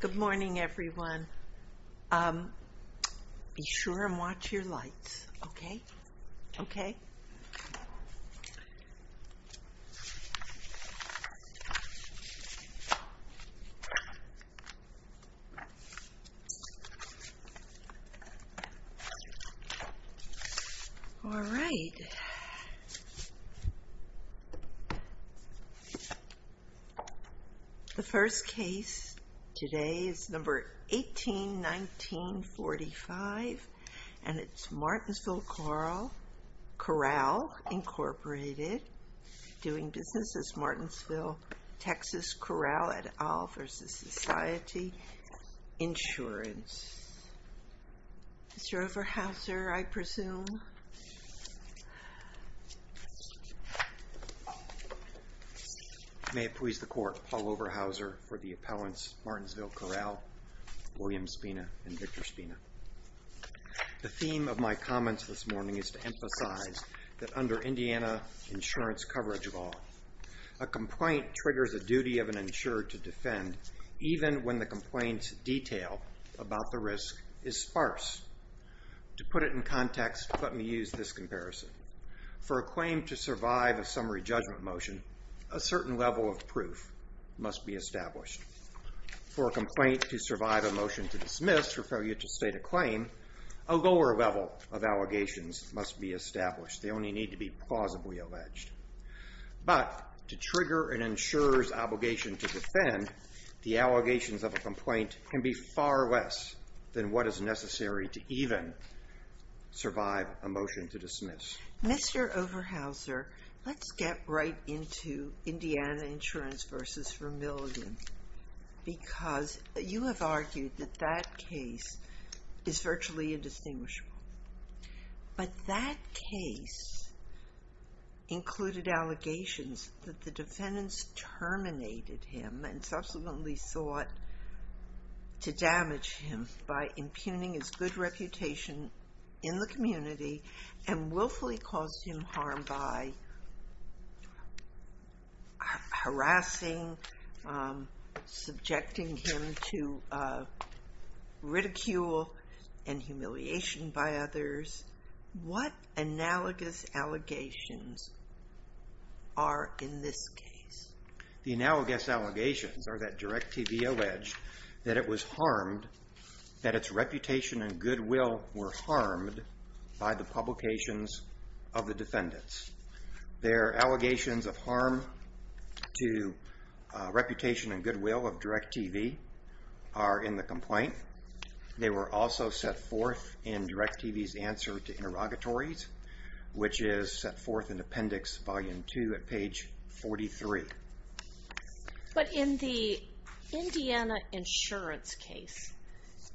Good morning, everyone. Um, be sure and watch your lights, okay? Okay. All right. The first case today is number 18-19-45, and it's Martinsville Corral. Corral Incorporated, doing business as Martinsville, Texas, Corral, et al. v. Society Insurance. Mr. Overhauser, I presume. May it please the court, Paul Overhauser for the appellants Martinsville Corral, William Spina, and Victor Spina. The theme of my comments this morning is to emphasize that under Indiana insurance coverage law, a complaint triggers a duty of an insurer to defend even when the complaint's detail about the risk is sparse. To put it in context, let me use this comparison. For a claim to survive a summary judgment motion, a certain level of proof must be established. For a complaint to survive a motion to dismiss or failure to state a claim, a lower level of allegations must be established. They only need to be plausibly alleged. But to trigger an insurer's obligation to defend, the allegations of a complaint can be far less than what is necessary to even survive a motion to dismiss. Mr. Overhauser, let's get right into Indiana Insurance v. Vermilion because you have argued that that case is virtually indistinguishable. But that case included allegations that the defendants terminated him and subsequently sought to damage him by impugning his good reputation in the community and willfully caused him harm by harassing, subjecting him to ridicule and humiliation by others. What analogous allegations are in this case? The analogous allegations are that Direct of the defendants. Their allegations of harm to reputation and goodwill of Direct TV are in the complaint. They were also set forth in Direct TV's answer to interrogatories, which is set forth in Appendix Volume 2 at page 43. But in the Indiana Insurance case,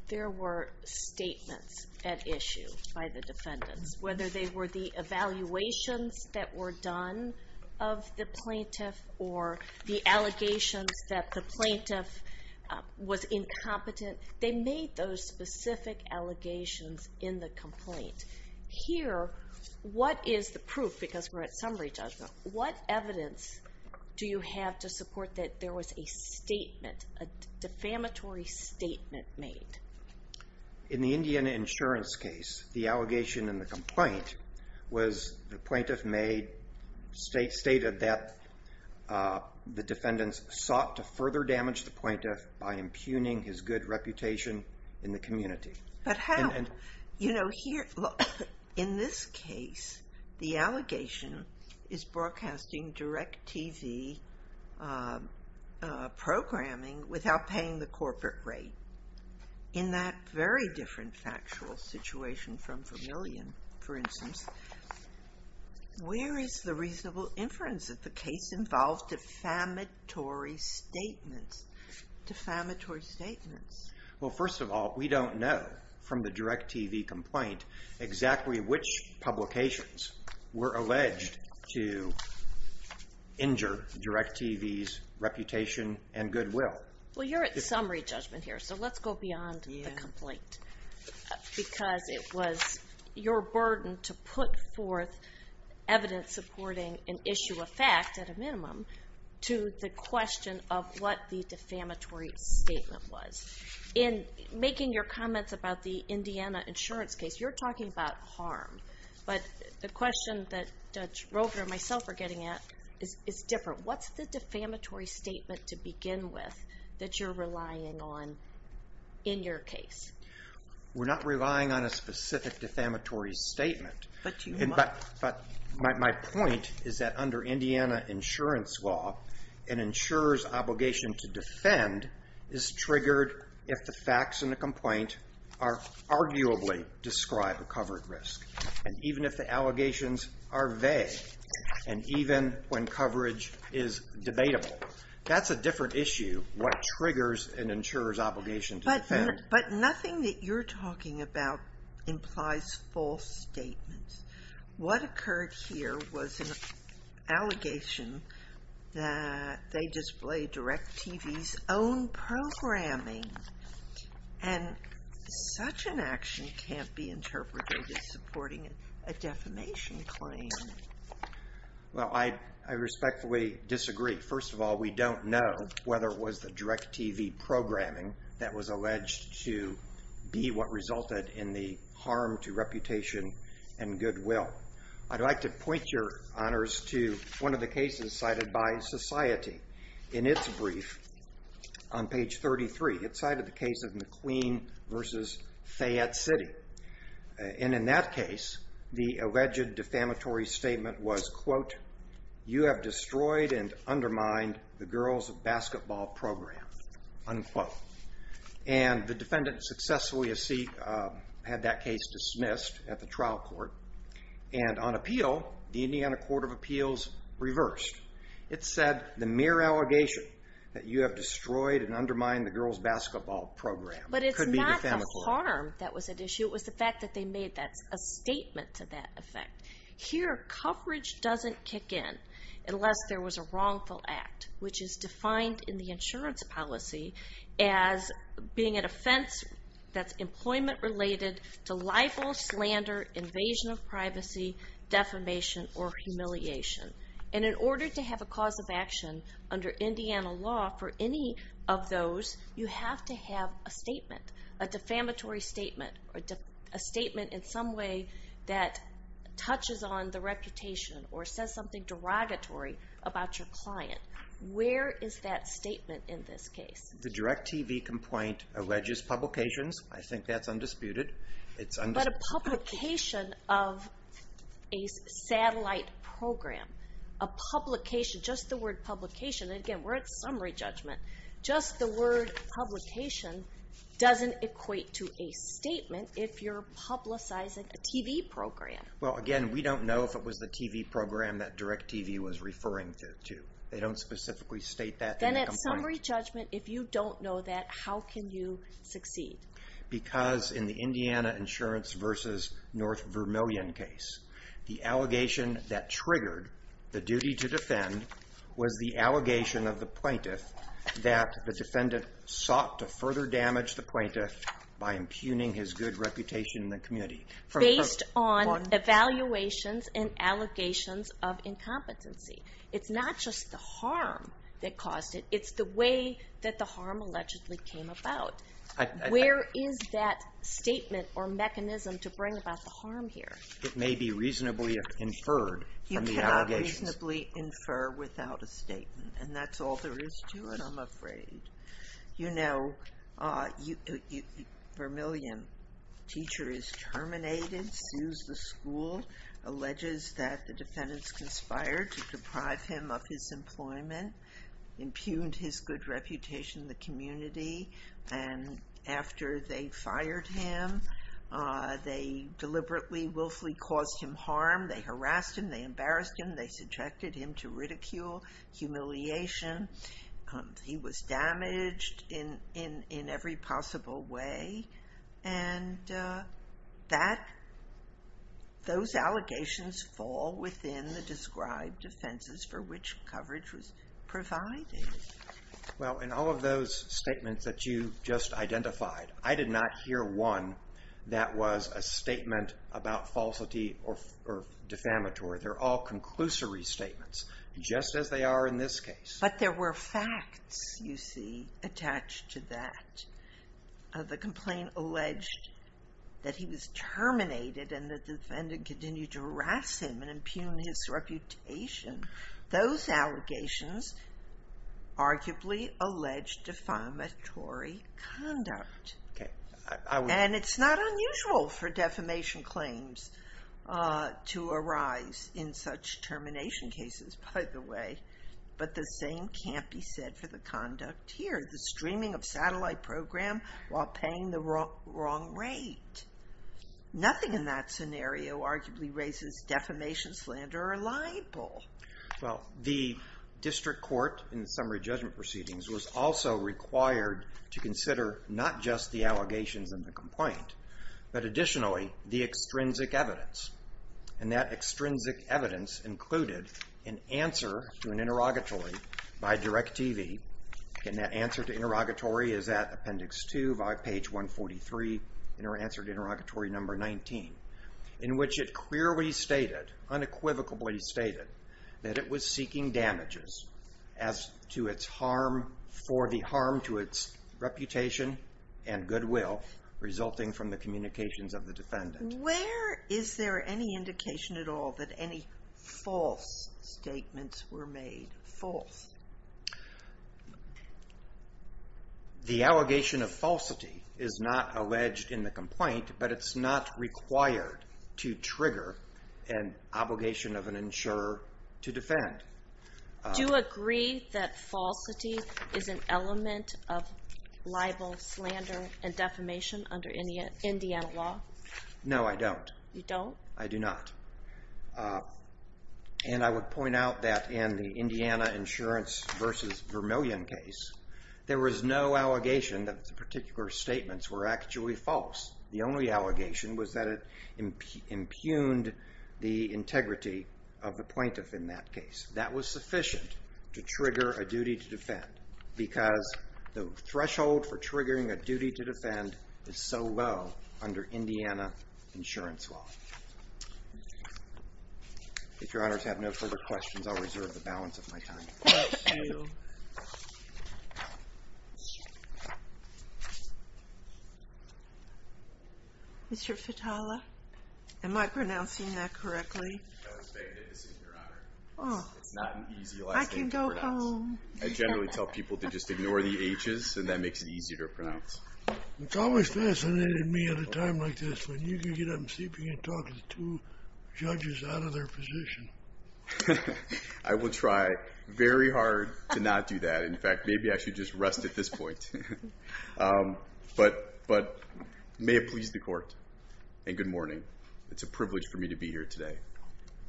there were statements at issue by the defendants, whether they were the evaluations that were done of the plaintiff or the allegations that the plaintiff was incompetent. They made those specific allegations in the complaint. Here, what is the proof? Because we're at summary judgment. What evidence do you have to support that there was a statement, a defamatory statement made? In the Indiana Insurance case, the allegation in the complaint was the plaintiff made, stated that the defendants sought to further damage the plaintiff by impugning his good reputation in the community. But how? You know, here, in this case, the allegation is broadcasting Direct TV programming without paying the corporate rate. In that very different factual situation from Vermilion, for instance, where is the reasonable inference that the case involved defamatory statements, defamatory statements? Well, first of all, we don't know from the Direct TV complaint exactly which publications were alleged to injure Direct TV's reputation and goodwill. Well, you're at summary judgment here, so let's go beyond the complaint because it was your burden to put forth evidence supporting an issue of fact, at a minimum, to the question of what the defamatory statement was. In making your comments about the Indiana Insurance case, you're talking about harm. But the question that Judge Roper and myself are getting at is different. What's the defamatory statement to begin with that you're relying on in your case? We're not relying on a specific defamatory statement, but my point is that under Indiana Insurance law, an insurer's obligation to defend is triggered if the facts in the complaint arguably describe a covered risk. And even if the allegations are vague, and even when coverage is debatable, that's a different issue, what triggers an insurer's obligation to defend. But nothing that you're talking about implies false statements. What occurred here was an allegation that they displayed Direct TV's own programming. And such an action can't be interpreted as supporting a defamation claim. Well, I respectfully disagree. First of all, we don't know whether it was the Direct TV programming that was alleged to be what resulted in the harm to reputation and goodwill. I'd like to point your honors to one of the cases cited by Society. In its brief, on page 33, it cited the case of McQueen versus Fayette City. And in that case, the alleged defamatory statement was, quote, you have destroyed and undermined the girls' basketball program, unquote. And the defendant successfully had that case dismissed at the trial court. And on appeal, the Indiana Court of Appeals reversed. It said the mere allegation that you have destroyed and undermined the girls' basketball program could be defamatory. But it's not the harm that was at issue. It was the fact that they made a statement to that effect. Here, coverage doesn't kick in unless there was a wrongful act, which is defined in the insurance policy as being an offense that's employment-related to libel, slander, invasion of privacy, defamation, or humiliation. And in order to have a cause of action under Indiana law for any of those, you have to have a statement. A defamatory statement. A statement in some way that touches on the reputation or says something derogatory about your client. Where is that statement in this case? The DIRECTV complaint alleges publications. I think that's undisputed. But a publication of a satellite program, a publication, just the word publication, and again, we're at summary judgment, just the word publication doesn't equate to a statement if you're publicizing a TV program. Well, again, we don't know if it was the TV program that DIRECTV was referring to. They don't specifically state that in the complaint. Then at summary judgment, if you don't know that, how can you succeed? Because in the Indiana Insurance versus North Vermilion case, the allegation that triggered the duty to defend was the allegation of the plaintiff that the defendant sought to further damage the plaintiff by impugning his good reputation in the community. Based on evaluations and allegations of incompetency. It's not just the harm that caused it, it's the way that the harm allegedly came about. Where is that statement or mechanism to bring about the harm here? It may be reasonably inferred from the allegations. You cannot reasonably infer without a statement. And that's all there is to it, I'm afraid. You know, Vermilion, teacher is terminated, sues the school, alleges that the defendant's conspired to deprive him of his employment, impugned his good reputation in the community, and after they fired him, they deliberately, willfully caused him harm, they harassed him, they embarrassed him, they subjected him to ridicule, humiliation. He was damaged in every possible way. And that, those allegations fall within the described offenses for which coverage was provided. Well, in all of those statements that you just identified, I did not hear one that was a statement about falsity or defamatory. They're all conclusory statements, just as they are in this case. But there were facts, you see, attached to that. The complaint alleged that he was terminated and that the defendant continued to harass him and impugn his reputation. Those allegations arguably allege defamatory conduct. And it's not unusual for defamation claims to arise in such termination cases, by the way. But the same can't be said for the conduct here. The streaming of satellite program while paying the wrong rate. Nothing in that scenario arguably raises defamation slander or libel. Well, the district court, in the summary judgment proceedings, was also required to consider not just the allegations in the complaint, but additionally, the extrinsic evidence. And that extrinsic evidence included an answer to an interrogatory by DirecTV. And that answer to interrogatory is at Appendix 2, by page 143, in our answer to interrogatory number 19. In which it clearly stated, unequivocally stated, that it was seeking damages as to its harm for the harm to its reputation and goodwill resulting from the communications of the defendant. Where is there any indication at all that any false statements were made? False. The allegation of falsity is not alleged in the complaint, but it's not required to trigger an obligation of an insurer to defend. Do you agree that falsity is an element of libel, slander, and defamation under Indiana law? No, I don't. You don't? I do not. And I would point out that in the Indiana insurance versus Vermillion case, there was no allegation that the particular statements were actually false. The only allegation was that it impugned the integrity of the plaintiff in that case. That was sufficient to trigger a duty to defend. Because the threshold for triggering a duty to defend is so low under Indiana insurance law. If your honors have no further questions, I'll reserve the balance of my time. Mr. Fitala? Am I pronouncing that correctly? I was begging him to sit here, your honor. It's not an easy last name to pronounce. I can go home. I generally tell people to just ignore the H's, and that makes it easier to pronounce. It's always fascinated me at a time like this when you can get up and sleeping and talking to two judges out of their position. I will try very hard to not do that. In fact, maybe I should just rest at this point. But it may have pleased the court. And good morning. It's a privilege for me to be here today.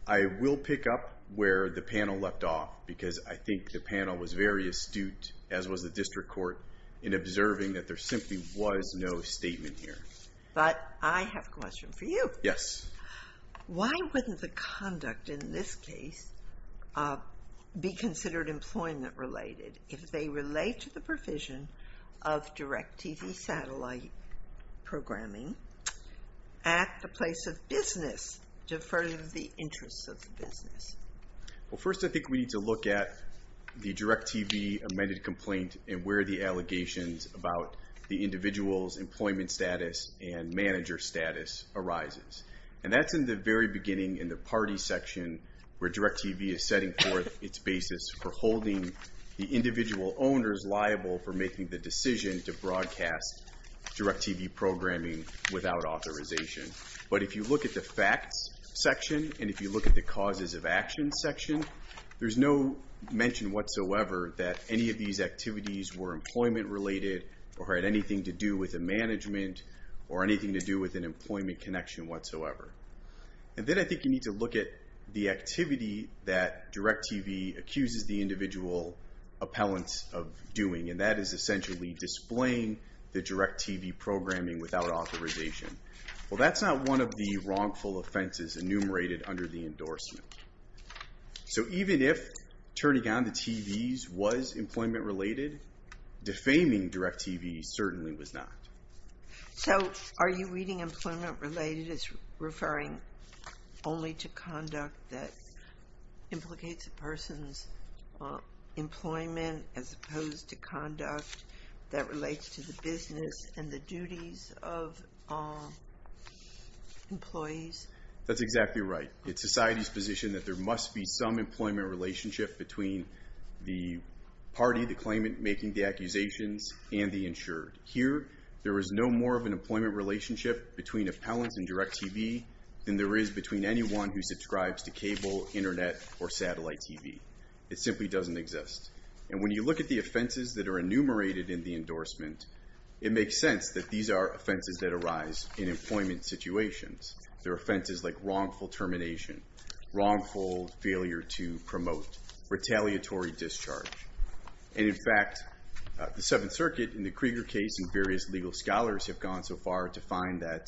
I will pick up where the panel left off because I think the panel was very astute, as was the district court, in observing that there simply was no statement here. But I have a question for you. Yes. Why wouldn't the conduct in this case be considered employment related? If they relate to the provision of DIRECTV satellite programming at the place of business to further the interests of the business? Well, first I think we need to look at the DIRECTV amended complaint and where the allegations about the individual's employment status and manager status arises. And that's in the very beginning in the party section where DIRECTV is setting forth its basis for holding the individual owners liable for making the decision to broadcast DIRECTV programming without authorization. But if you look at the facts section and if you look at the causes of action section, there's no mention whatsoever that any of these activities were employment related or had anything to do with the management or anything to do with an employment connection whatsoever. And then I think you need to look at the activity that DIRECTV accuses the individual appellant of doing and that is essentially displaying the DIRECTV programming without authorization. Well, that's not one of the wrongful offenses enumerated under the endorsement. So even if turning on the TVs was employment related, defaming DIRECTV certainly was not. So are you reading employment related as referring only to conduct that implicates a person's employment as opposed to conduct that relates to the business and the duties of employees? That's exactly right. It's society's position that there must be some employment relationship between the party, the claimant making the accusations, and the insured. Here, there is no more of an employment relationship between appellants and DIRECTV than there is between anyone who subscribes to cable, internet, or satellite TV. It simply doesn't exist. And when you look at the offenses that are enumerated in the endorsement, it makes sense that these are offenses that arise in employment situations. There are offenses like wrongful termination, wrongful failure to promote, retaliatory discharge. And in fact, the Seventh Circuit in the Krieger case and various legal scholars have gone so far to find that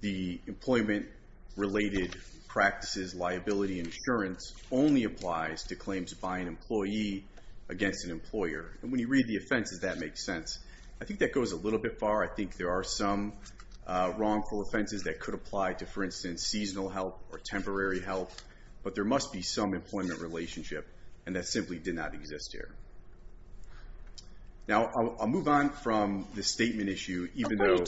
the employment-related practices, liability, and insurance, only applies to claims by an employee against an employer. And when you read the offenses, that makes sense. I think that goes a little bit far. I think there are some wrongful offenses that could apply to, for instance, seasonal help or temporary help, but there must be some employment relationship, and that simply did not exist here. Now, I'll move on from the statement issue, even though...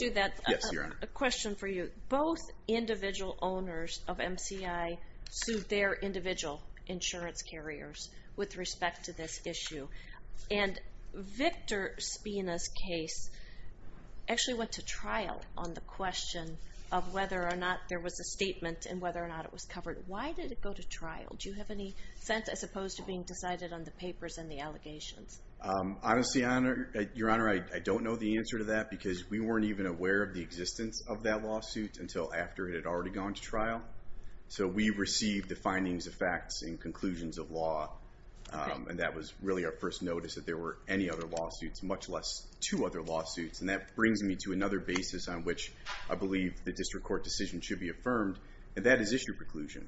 Yes, Your Honor. A question for you. Both individual owners of MCI sued their individual insurance carriers with respect to this issue. And Victor Spina's case actually went to trial on the question of whether or not there was a statement and whether or not it was covered. Why did it go to trial? Do you have any sense, as opposed to being decided on the papers and the allegations? Honestly, Your Honor, I don't know the answer to that, because we weren't even aware of the existence of that lawsuit until after it had already gone to trial. So we received the findings, the facts, and conclusions of law, and that was really our first notice that there were any other lawsuits, much less two other lawsuits. And that brings me to another basis on which I believe the district court decision should be affirmed, and that is issue preclusion.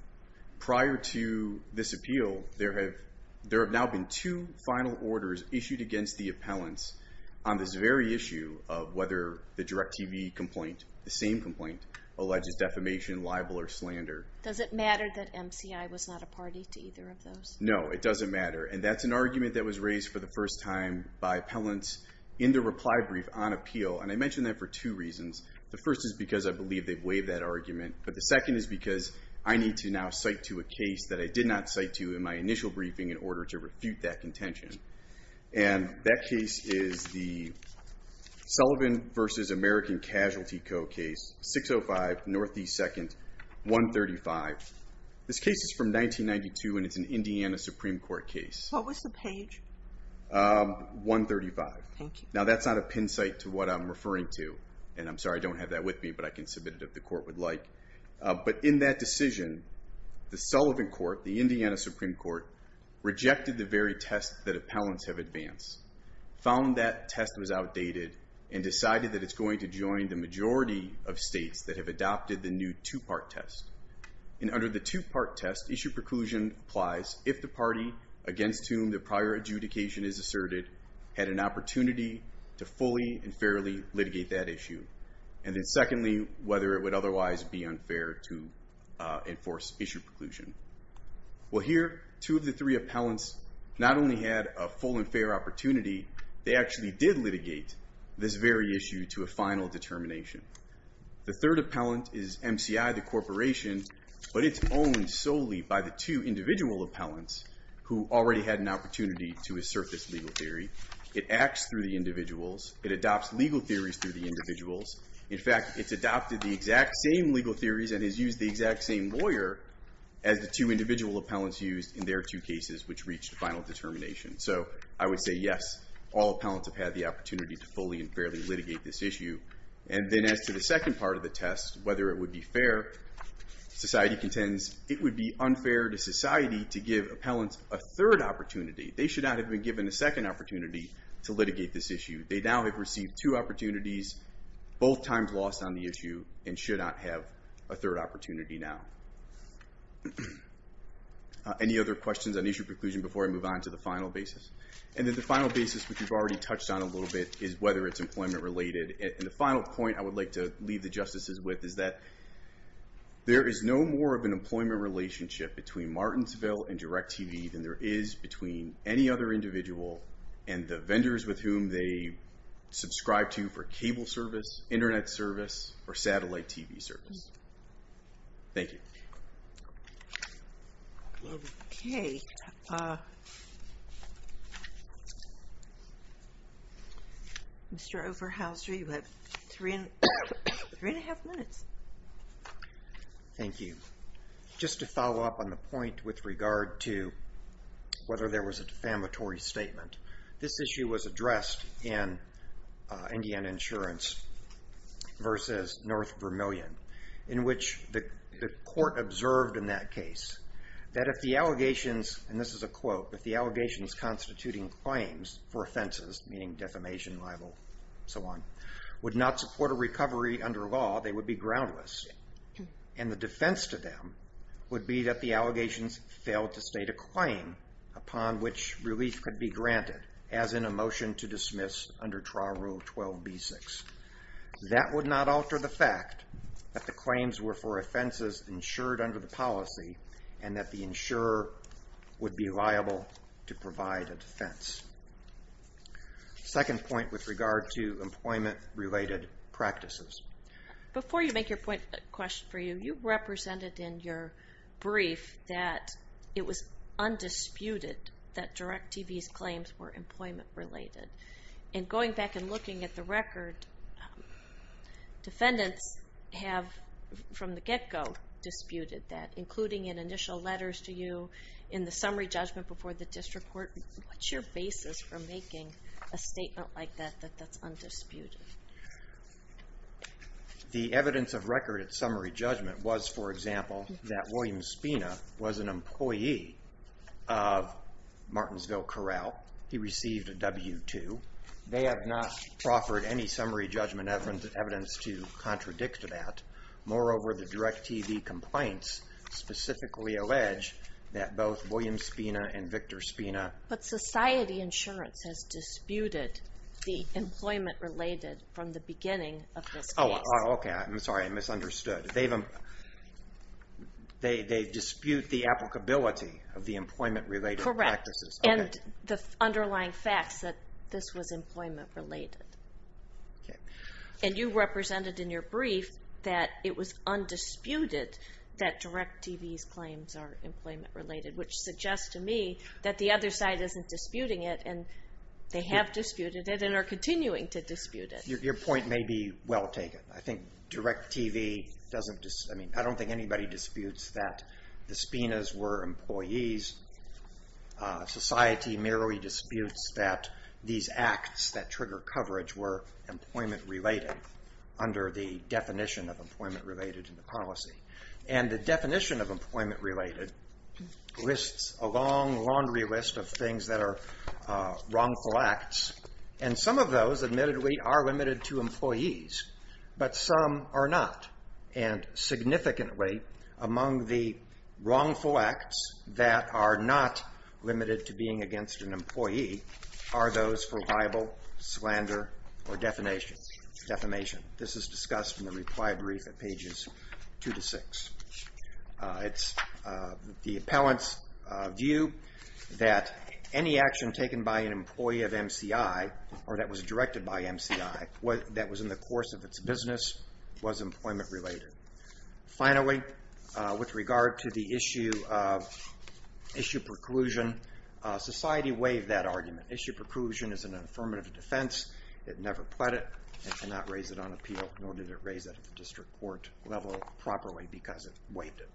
Prior to this appeal, there have now been two final orders issued against the appellants on this very issue of whether the DIRECTV complaint, the same complaint, alleges defamation, libel, or slander. Does it matter that MCI was not a party to either of those? No, it doesn't matter. And that's an argument that was raised for the first time by appellants in the reply brief on appeal. And I mention that for two reasons. The first is because I believe they've waived that argument, but the second is because I need to now cite to a case that I did not cite to in my initial briefing in order to refute that contention. And that case is the Sullivan v. American Casualty Co. case, 605 Northeast 2nd, 135. This case is from 1992, and it's an Indiana Supreme Court case. What was the page? 135. Now that's not a pin site to what I'm referring to, and I'm sorry, I don't have that with me, but I can submit it if the court would like. But in that decision, the Sullivan Court, the Indiana Supreme Court, rejected the very test that appellants have advanced, found that test was outdated, and decided that it's going to join the majority of states that have adopted the new two-part test. And under the two-part test, issue preclusion applies if the party against whom the prior adjudication is asserted had an opportunity to fully and fairly litigate that issue. And then secondly, whether it would otherwise be unfair to enforce issue preclusion. Well here, two of the three appellants not only had a full and fair opportunity, they actually did litigate this very issue to a final determination. The third appellant is MCI, the corporation, but it's owned solely by the two individual appellants who already had an opportunity to assert this legal theory. It acts through the individuals. It adopts legal theories through the individuals. In fact, it's adopted the exact same legal theories and has used the exact same lawyer as the two individual appellants used in their two cases which reached final determination. So I would say yes, all appellants have had the opportunity to fully and fairly litigate this issue. And then as to the second part of the test, whether it would be fair, society contends it would be unfair to society to give appellants a third opportunity. They should not have been given a second opportunity to litigate this issue. They now have received two opportunities, both times lost on the issue, and should not have a third opportunity now. Any other questions on issue preclusion before I move on to the final basis? And then the final basis, which we've already touched on a little bit, is whether it's employment related. And the final point I would like to leave the There is no more of an employment relationship between Martinsville and DirecTV than there is between any other individual and the vendors with whom they subscribe to for cable service, internet service, or satellite TV service. Thank you. Okay. Mr. Overhauser, you have three and a half minutes. Thank you. Just to follow up on the point with regard to whether there was a defamatory statement, this issue was addressed in Indiana Insurance versus North Vermilion in which the court observed in that case that if the allegations, and this is a quote, if the allegations constituting claims for offenses, meaning defamation, libel, so on, would not support a recovery under law they would be groundless. And the defense to them would be that the allegations failed to state a claim upon which relief could be granted, as in a motion to dismiss under trial rule 12b6. That would not alter the fact that the claims were for offenses insured under the policy and that the insurer would be liable to provide a defense. Second point with regard to employment related practices. Before you make your point, a question for you. You represented in your brief that it was undisputed that DirecTV's claims were employment related. And going back and looking at the record defendants have from the get-go disputed that including in initial letters to you in the summary judgment before the district court, what's your basis for making a statement like that that's undisputed? The evidence of record at summary judgment was, for example, that William Spina was an employee of Martinsville Corral he received a W-2 they have not proffered any summary judgment evidence to contradict that. Moreover the DirecTV complaints specifically allege that both William Spina and Victor Spina But society insurance has employment related from the beginning of this case. I'm sorry, I misunderstood. They dispute the applicability of the employment related practices. And the underlying facts that this was employment related. And you represented in your brief that it was undisputed that DirecTV's claims are employment related, which suggests to me that the other side isn't disputing it and they have disputed it and are continuing to dispute it. Your point may be well taken. I think DirecTV, I don't think anybody disputes that the Spinas were employees society merely disputes that these acts that trigger coverage were employment related under the definition of employment related in the policy. And the definition of employment related lists a long laundry list of things that are wrongful acts and some of those admittedly are limited to employees but some are not. And significantly among the wrongful acts that are not limited to being against an employee are those for liable, slander, or defamation. This is discussed in the reply brief at pages two to six. It's the appellant's view that any action taken by an employee of MCI or that was directed by MCI that was in the course of its business was employment related. Finally, with regard to the issue of issue preclusion society waived that argument. Issue preclusion is an affirmative defense. It never pled it and cannot raise it on appeal nor did it raise it at the district court level properly because it waived it.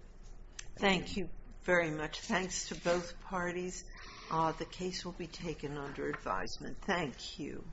Thank you very much. Thanks to both parties. The case will be taken under advisement. Thank you.